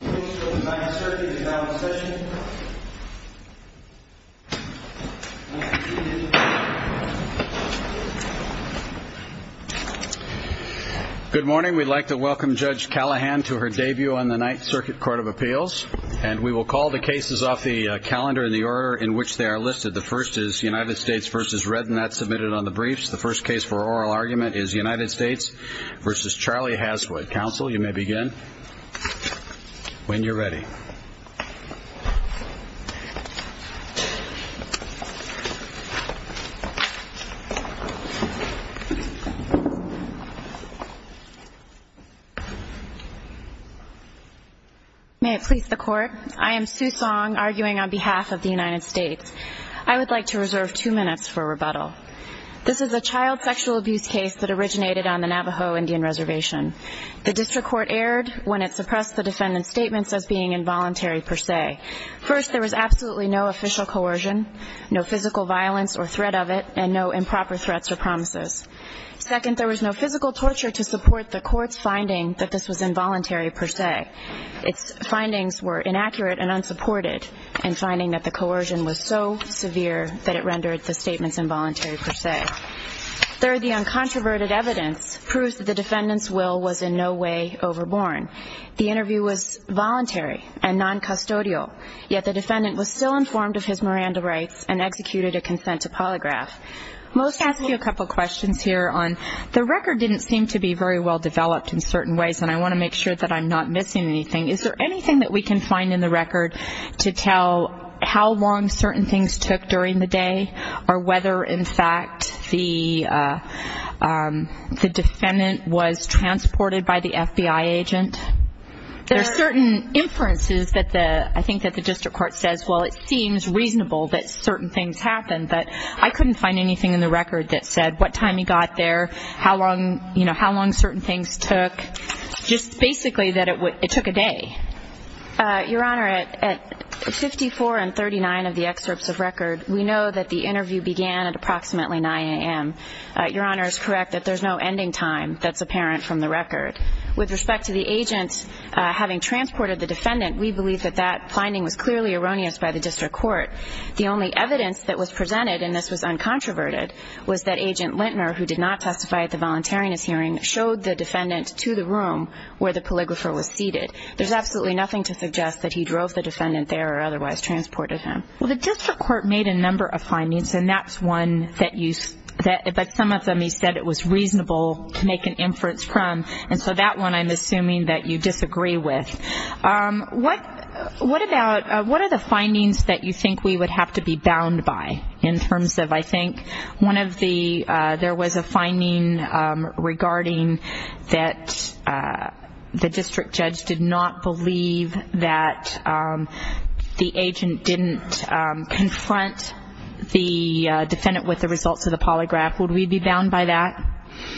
Good morning, we'd like to welcome Judge Callahan to her debut on the Ninth Circuit Court of Appeals, and we will call the cases off the calendar in the order in which they are listed. The first is United States v. Redd, not submitted on the briefs. The first case for oral argument is United States v. Charley Haswood. Counsel, you may begin when you're ready. May it please the Court, I am Sue Song, arguing on behalf of the United States. I would like to reserve two minutes for rebuttal. This is a child sexual abuse case that originated on the Navajo Indian Reservation. The district court erred when it suppressed the defendant's statements as being involuntary per se. First, there was absolutely no official coercion, no physical violence or threat of it, and no improper threats or promises. Second, there was no physical torture to support the court's finding that this was involuntary per se. Its findings were Third, the uncontroverted evidence proves that the defendant's will was in no way overborn. The interview was voluntary and non-custodial, yet the defendant was still informed of his Miranda rights and executed a consent to polygraph. Most ask you a couple questions here on, the record didn't seem to be very well developed in certain ways, and I want to make sure that I'm not missing anything. Is there anything that we can find in the record to tell how long certain things took during the day, or whether in fact the defendant was transported by the FBI agent? There are certain inferences that the, I think that the district court says, well, it seems reasonable that certain things happened, but I couldn't find anything in the record that said what time he got there, how long, you know, how long certain things took, just basically that it took a day. Your Honor, at 54 and 39 of the excerpts of record, we know that the interview began at approximately 9 a.m. Your Honor is correct that there's no ending time that's apparent from the record. With respect to the agent having transported the defendant, we believe that that finding was clearly erroneous by the district court. The only evidence that was presented, and this was uncontroverted, was that Agent Lintner, who did not testify at the time, had absolutely nothing to suggest that he drove the defendant there or otherwise transported him. Well, the district court made a number of findings, and that's one that you said, but some of them you said it was reasonable to make an inference from, and so that one I'm assuming that you disagree with. What, what about, what are the findings that you think we would have to be bound by in terms of, I think, one of the, there was a the district judge did not believe that the agent didn't confront the defendant with the results of the polygraph. Would we be bound by that?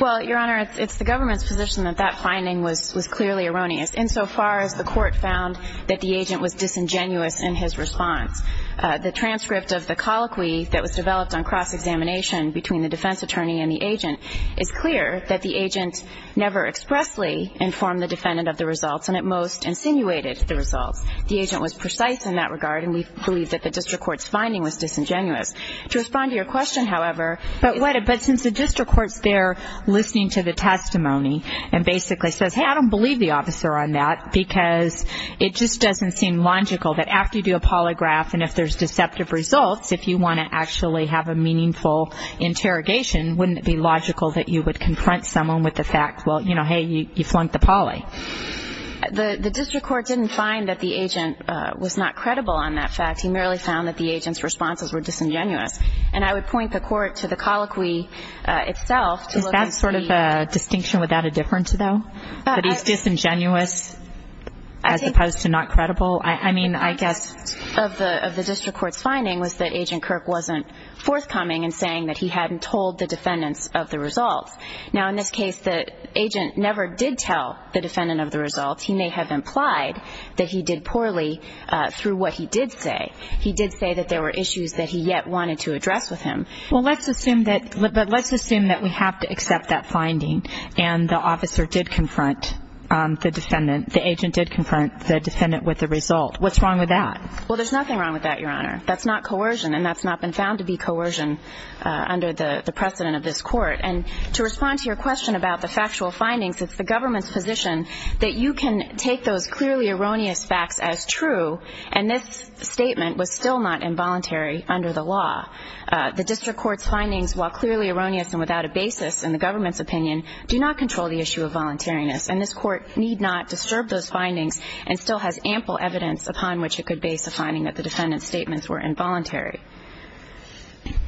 Well, Your Honor, it's the government's position that that finding was clearly erroneous, insofar as the court found that the agent was disingenuous in his response. The transcript of the colloquy that was developed on cross-examination between the defense attorney and the agent is clear that the agent never expressly informed the defendant of the results and at most insinuated the results. The agent was precise in that regard, and we believe that the district court's finding was disingenuous. To respond to your question, however, but what, but since the district court's there listening to the testimony and basically says, hey, I don't believe the officer on that because it just doesn't seem logical that after you do a polygraph and if there's deceptive results, if you want to actually have a meaningful interrogation, wouldn't it be logical that you would confront someone with the fact, well, you know, hey, you flunked the poly? The district court didn't find that the agent was not credible on that fact. He merely found that the agent's responses were disingenuous. And I would point the court to the colloquy itself to look at the... Is that sort of a distinction without a difference, though? That he's disingenuous as opposed to not credible? I mean, I guess... The point of the district court's finding was that Agent Kirk wasn't forthcoming in saying that he hadn't told the defendants of the results. Now, in this case, the agent never did tell the defendant of the results. He may have implied that he did poorly through what he did say. He did say that there were issues that he yet wanted to address with him. Well, let's assume that, but let's assume that we have to accept that finding and the officer did confront the defendant, the agent did confront the defendant with the result. What's wrong with that? Well, there's nothing wrong with that, Your Honor. That's not coercion, and that's not been found to be coercion under the precedent of this court. And to respond to your question about the factual findings, it's the government's position that you can take those clearly erroneous facts as true, and this statement was still not involuntary under the law. The district court's findings, while clearly erroneous and without a basis in the government's opinion, do not control the issue of voluntariness. And this court need not disturb those findings and still has ample evidence upon which it could base a finding that the defendant's statements were involuntary.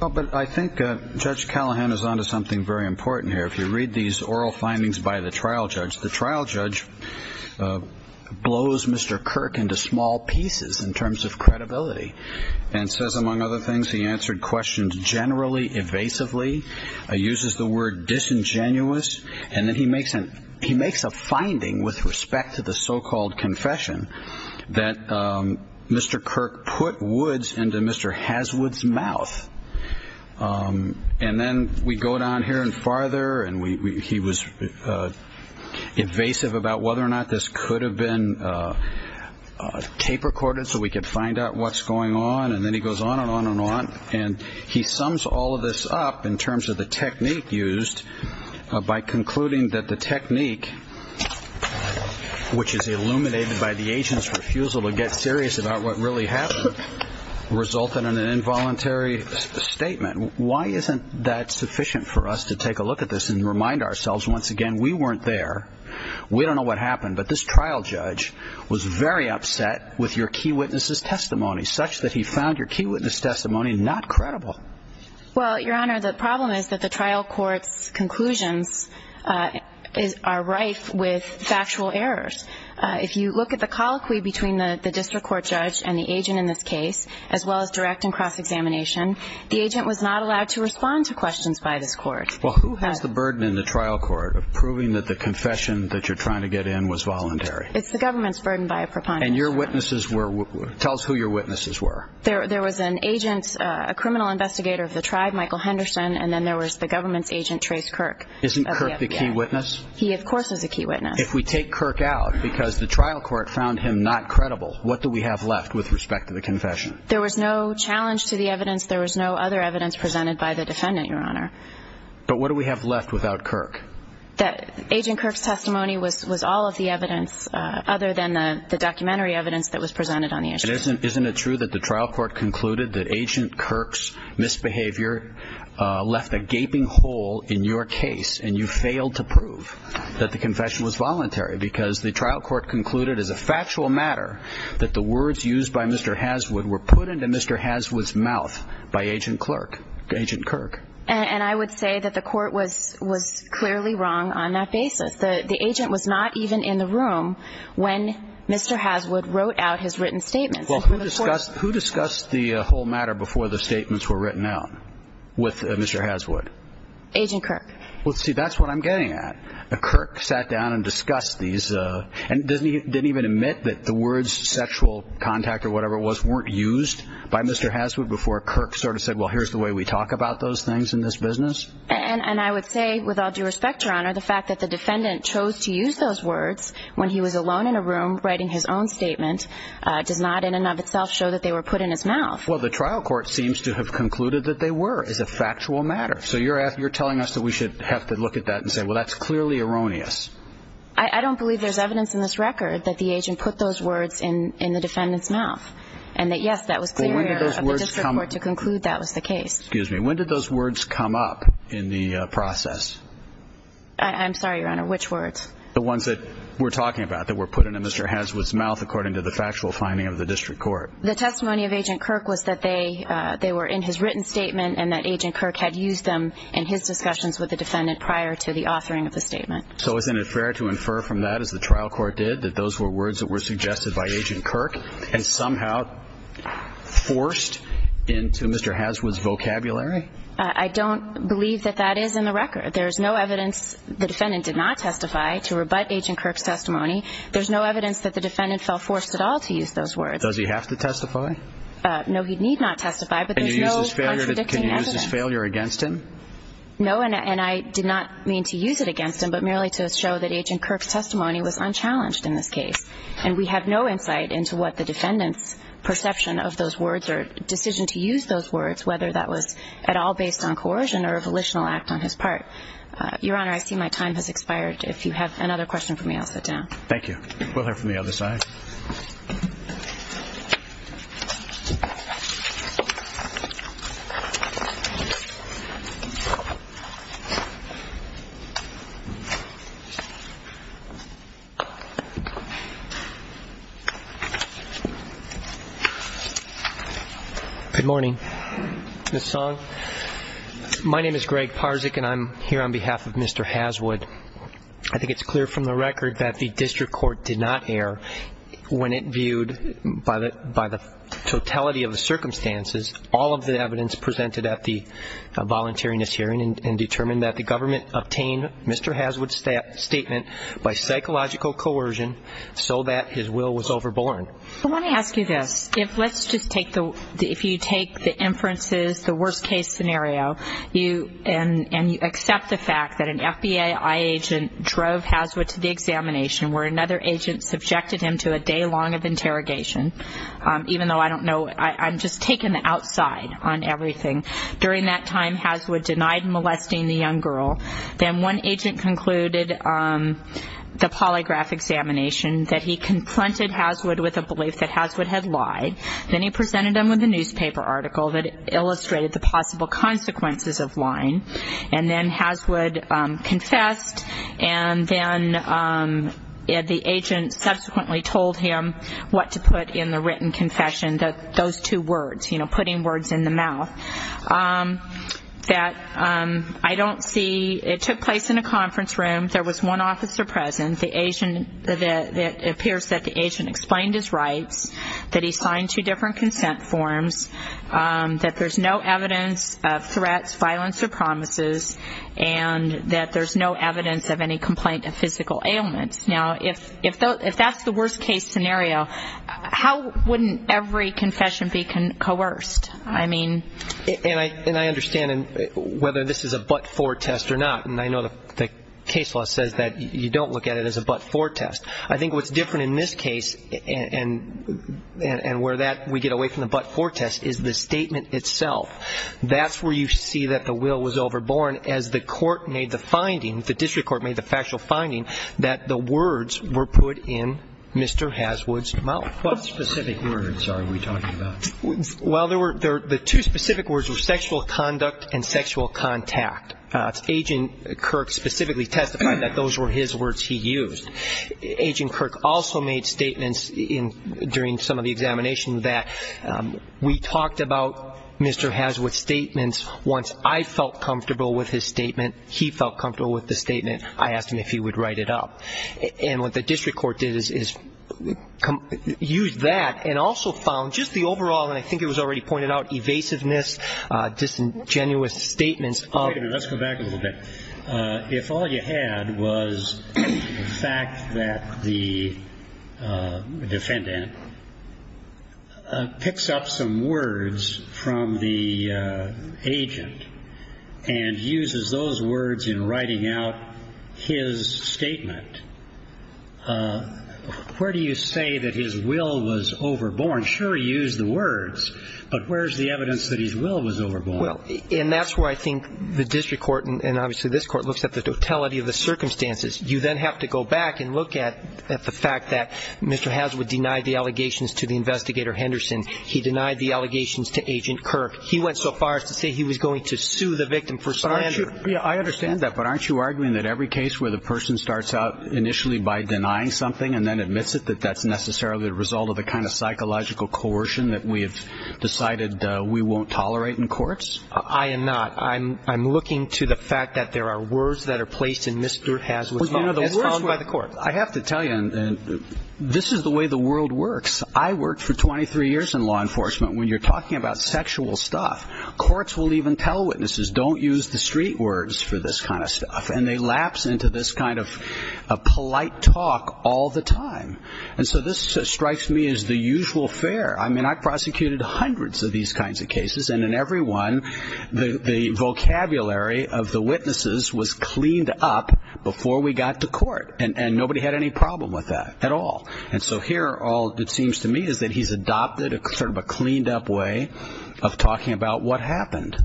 Well, but I think Judge Callahan is on to something very important here. If you read these oral findings by the trial judge, the trial judge blows Mr. Kirk into small pieces in terms of credibility and says, among other things, he answered questions generally, evasively, uses the word disingenuous, and then he makes a finding with respect to the so-called confession that Mr. Kirk put woods into Mr. Haswood's mouth. And then we go down here and farther, and he was evasive about whether or not this could have been tape recorded so we could find out what's going on. And then he goes on and on and on. And he sums all of this up in terms of the technique used by concluding that the technique, which is illuminated by the agent's refusal to get serious about what really happened, resulted in an involuntary statement. Why isn't that sufficient for us to take a look at this and remind ourselves, once again, we weren't there. We don't know what happened, but this trial judge was very upset with your key witness's testimony, such that he found your key witness testimony not credible. Well, Your Honor, the problem is that the trial court's conclusions are rife with factual errors. If you look at the colloquy between the district court judge and the agent in this case, as well as direct and cross-examination, the agent was not allowed to respond to questions by this court. Well, who has the burden in the trial court of proving that the confession that you're trying to get in was voluntary? It's the government's burden by a criminal investigator of the tribe, Michael Henderson, and then there was the government's agent, Trace Kirk. Isn't Kirk the key witness? He, of course, is the key witness. If we take Kirk out because the trial court found him not credible, what do we have left with respect to the confession? There was no challenge to the evidence. There was no other evidence presented by the defendant, Your Honor. But what do we have left without Kirk? Agent Kirk's testimony was all of the evidence other than the documentary evidence that was presented on the issue. Isn't it true that the trial court concluded that Agent Kirk's misbehavior left a gaping hole in your case and you failed to prove that the confession was voluntary because the trial court concluded as a factual matter that the words used by Mr. Haswood were put into Mr. Haswood's mouth by Agent Kirk? And I would say that the court was clearly wrong on that basis. The agent was not even in the room when Mr. Haswood wrote out his written statements. Who discussed the whole matter before the statements were written out with Mr. Haswood? Agent Kirk. Well, see, that's what I'm getting at. Kirk sat down and discussed these and didn't even admit that the words sexual contact or whatever it was weren't used by Mr. Haswood before Kirk sort of said, well, here's the way we talk about those things in this business. And I would say with all due respect, Your Honor, the fact that the defendant chose to use those words when he was alone in a room writing his own statement does not in and of itself show that they were put in his mouth. Well, the trial court seems to have concluded that they were as a factual matter. So you're telling us that we should have to look at that and say, well, that's clearly erroneous. I don't believe there's evidence in this record that the agent put those words in the defendant's mouth and that, yes, that was clear of the district court to conclude that was the case. Excuse me, when did those words come up in the process? I'm sorry, Your Honor, which words? The ones that we're talking about, that were put into Mr. Haswood's mouth according to the factual finding of the district court. The testimony of Agent Kirk was made by Mr. Haswood's mouth. It was that they were in his written statement and that Agent Kirk had used them in his discussions with the defendant prior to the authoring of the statement. So isn't it fair to infer from that, as the trial court did, that those were words that were suggested by Agent Kirk and somehow forced into Mr. Haswood's vocabulary? I don't believe that that is in the record. There is no evidence the defendant did not testify to rebut Agent Kirk's testimony. There's no evidence that the defendant fell forced at all to use those words. Does he have to testify? No, he need not testify, but there's no contradicting evidence. Can you use this failure against him? No, and I did not mean to use it against him, but merely to show that Agent Kirk's testimony was unchallenged in this case. And we have no insight into what the defendant's perception of those words or decision to use those words, whether that was at all based on coercion or a volitional act on his part. Your Honor, I see my time has expired. If you have another question for me, I'll sit down. Thank you. We'll hear from the other side. Good morning. Ms. Song? My name is Greg Parzik, and I'm here on behalf of Mr. Haswood. I think it's clear from the record that the district court did not err when it viewed by the defendant's testimony. In the case of the case of the defendant's testimony, it was not the defendant's testimony. So, in the case of the defendant's testimony, it was the defendant's testimony. And I don't believe that the defendant had anything to do with the defendant's testimony. In the totality of the circumstances, all of the evidence presented at the volunteeriness hearing determined that the government obtained Mr. Haswood's statement by psychological coercion so that his will was overborne. I want to ask you this. If you take the inferences, the worst case scenario, and you accept the fact that an FBI agent drove Haswood to the examination where another agent subjected him to a day long of interrogation, even though I don't know, I'm just taking the outside on everything. During that time, Haswood denied molesting the young girl. Then one agent concluded the polygraph examination that he confronted Haswood with a belief that Haswood had lied. Then he presented him with a newspaper article that illustrated the possible consequences of lying. And then Haswood confessed, and then the agent subsequently told him what to put in the written confession, those two words, you know, putting words in the mouth. It took place in a conference room. There was one officer present. It appears that the agent explained his rights, that he signed two different consent forms, that there's no evidence of threats, violence, or promises, and that there's no evidence of any complaint of physical ailments. Now, if that's the worst case scenario, how wouldn't every confession be coerced? I mean... What specific words are we talking about? Well, the two specific words were sexual conduct and sexual contact. Agent Kirk specifically testified that those were his words he used. Agent Kirk also made statements during some of the examination that we talked about Mr. Haswood's statements once I felt comfortable with his statement, he felt comfortable with the statement, I asked him if he would write it up. And what the district court did is use that and also found just the overall, and I think it was already pointed out, evasiveness, disingenuous statements of... Where do you say that his will was overborn? Sure, he used the words, but where's the evidence that his will was overborn? Well, and that's where I think the district court, and obviously this court, looks at the totality of the circumstances. You then have to go back and look at the fact that Mr. Haswood denied the allegations to the investigator Henderson. He denied the allegations to Agent Kirk. He went so far as to say he was going to sue the victim for... Yeah, I understand that, but aren't you arguing that every case where the person starts out initially by denying something and then admits it, that that's necessarily the result of the kind of psychological coercion that we have decided we won't tolerate in courts? I am not. I'm looking to the fact that there are words that are placed in Mr. Haswood's... Well, you know, the words were... ...as found by the court. Well, I have to tell you, this is the way the world works. I worked for 23 years in law enforcement. When you're talking about sexual stuff, courts will even tell witnesses, don't use the street words for this kind of stuff, and they lapse into this kind of polite talk all the time. And so this strikes me as the usual fare. I mean, I prosecuted hundreds of these kinds of cases, and in every one, the vocabulary of the witnesses was cleaned up before we got to court, and nobody had any problem with that at all. And so here, all it seems to me is that he's adopted sort of a cleaned-up way of talking about what happened.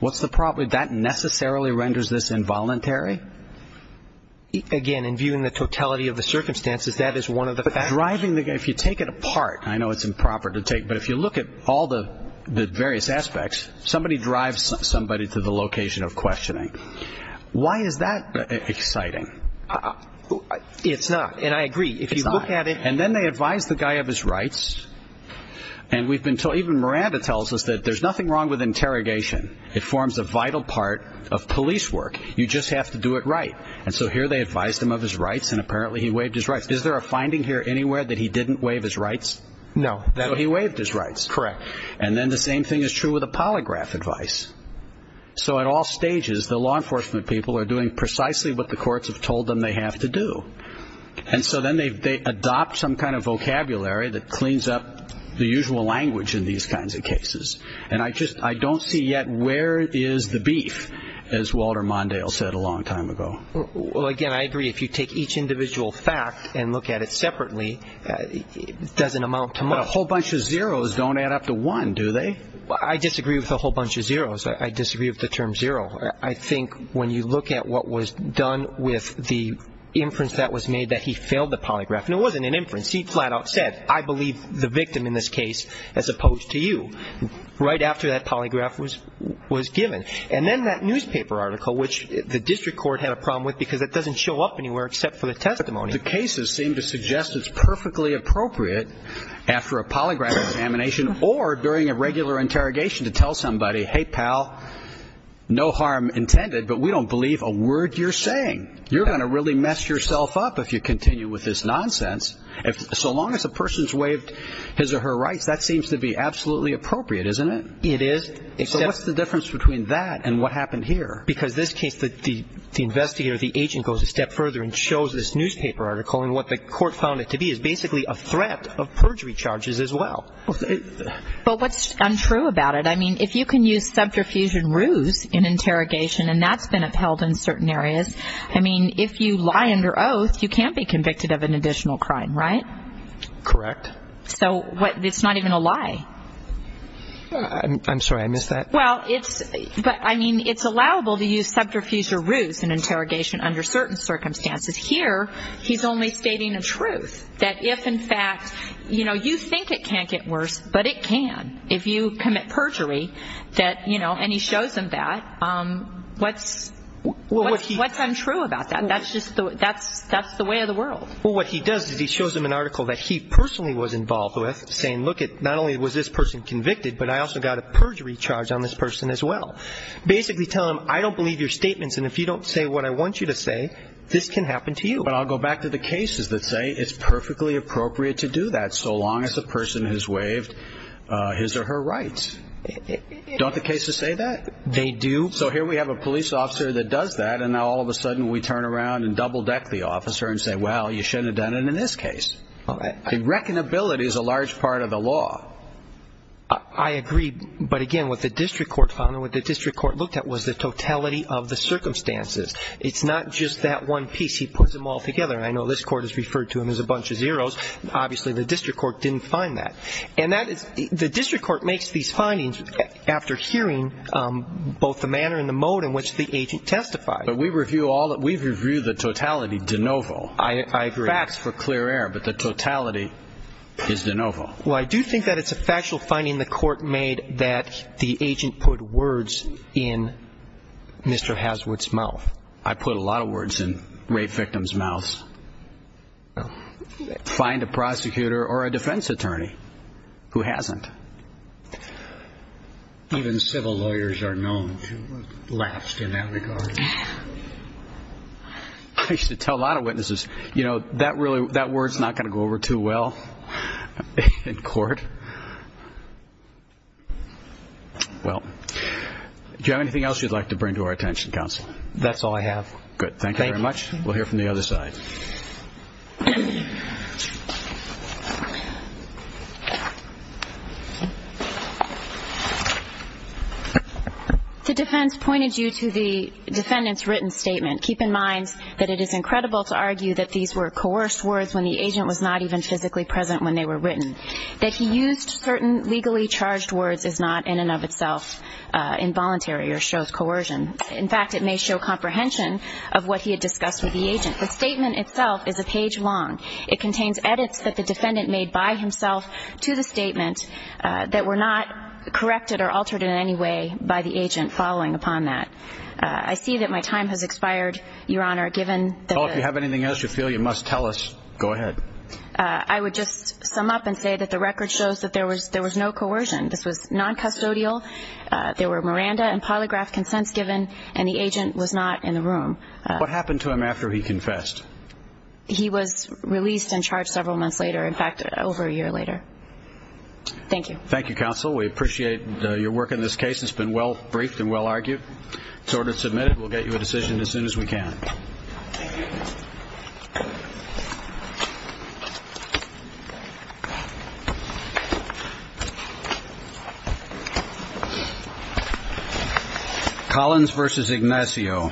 What's the problem? That necessarily renders this involuntary? Again, in viewing the totality of the circumstances, that is one of the... But driving the guy, if you take it apart, I know it's improper to take, but if you look at all the various aspects, somebody drives somebody to the location of questioning. Why is that exciting? It's not, and I agree. If you look at it... And so here they advised him of his rights, and apparently he waived his rights. Is there a finding here anywhere that he didn't waive his rights? No. So he waived his rights. Correct. And then the same thing is true with the polygraph advice. So at all stages, the law enforcement people are doing precisely what the courts have told them they have to do. And so then they adopt some kind of vocabulary that cleans up the usual language in these kinds of cases. And I don't see yet where is the beef, as Walter Mondale said a long time ago. Well, again, I agree. If you take each individual fact and look at it separately, it doesn't amount to much. But a whole bunch of zeros don't add up to one, do they? I disagree with a whole bunch of zeros. I disagree with the term zero. I think when you look at what was done with the inference that was made that he failed the polygraph, and it wasn't an inference. He flat out said, I believe the victim in this case as opposed to you, right after that polygraph was given. And then that newspaper article, which the district court had a problem with because it doesn't show up anywhere except for the testimony. The cases seem to suggest it's perfectly appropriate after a polygraph examination or during a regular interrogation to tell somebody, hey, pal, no harm intended, but we don't believe a word you're saying. You're going to really mess yourself up if you continue with this nonsense. So long as a person's waived his or her rights, that seems to be absolutely appropriate, isn't it? It is. So what's the difference between that and what happened here? Because this case, the investigator, the agent, goes a step further and shows this newspaper article, and what the court found it to be is basically a threat of perjury charges as well. But what's untrue about it, I mean, if you can use subterfuge and ruse in interrogation, and that's been upheld in certain areas, I mean, if you lie under oath, you can't be convicted of an additional crime, right? Correct. So it's not even a lie. I'm sorry, I missed that. Well, it's – but, I mean, it's allowable to use subterfuge or ruse in interrogation under certain circumstances. Here he's only stating a truth, that if, in fact, you know, you think it can't get worse, but it can, if you commit perjury that, you know, and he shows them that, what's untrue about that? That's just the – that's the way of the world. Well, what he does is he shows them an article that he personally was involved with, saying, look, not only was this person convicted, but I also got a perjury charge on this person as well. Basically telling them, I don't believe your statements, and if you don't say what I want you to say, this can happen to you. But I'll go back to the cases that say it's perfectly appropriate to do that, so long as the person has waived his or her rights. Don't the cases say that? They do. So here we have a police officer that does that, and now all of a sudden we turn around and double-deck the officer and say, well, you shouldn't have done it in this case. Reckonability is a large part of the law. I agree, but again, what the district court found and what the district court looked at was the totality of the circumstances. It's not just that one piece. He puts them all together, and I know this court has referred to him as a bunch of zeros. Obviously the district court didn't find that. And that is – the district court makes these findings after hearing both the manner and the mode in which the agent testified. But we review all – we've reviewed the totality de novo. I agree. The facts for clear air, but the totality is de novo. Well, I do think that it's a factual finding the court made that the agent put words in Mr. Haswood's mouth. I put a lot of words in rape victims' mouths. Find a prosecutor or a defense attorney who hasn't. Even civil lawyers are known to have laughed in that regard. I used to tell a lot of witnesses, you know, that word's not going to go over too well in court. Well, do you have anything else you'd like to bring to our attention, counsel? That's all I have. Good. Thank you very much. We'll hear from the other side. The defense pointed you to the defendant's written statement. Keep in mind that it is incredible to argue that these were coerced words when the agent was not even physically present when they were written. That he used certain legally charged words is not in and of itself involuntary or shows coercion. In fact, it may show comprehension of what he had discussed with the agent. The statement itself is a page long. It contains edits that the defendant made by himself to the statement that were not corrected or altered in any way by the agent following upon that. I see that my time has expired, Your Honor, given that the- If you have anything else you feel you must tell us, go ahead. I would just sum up and say that the record shows that there was no coercion. This was noncustodial. There were Miranda and polygraph consents given, and the agent was not in the room. What happened to him after he confessed? He was released and charged several months later. In fact, over a year later. Thank you. Thank you, Counsel. We appreciate your work in this case. It's been well-briefed and well-argued. It's order submitted. We'll get you a decision as soon as we can. Thank you. Collins v. Ignacio. Thank you.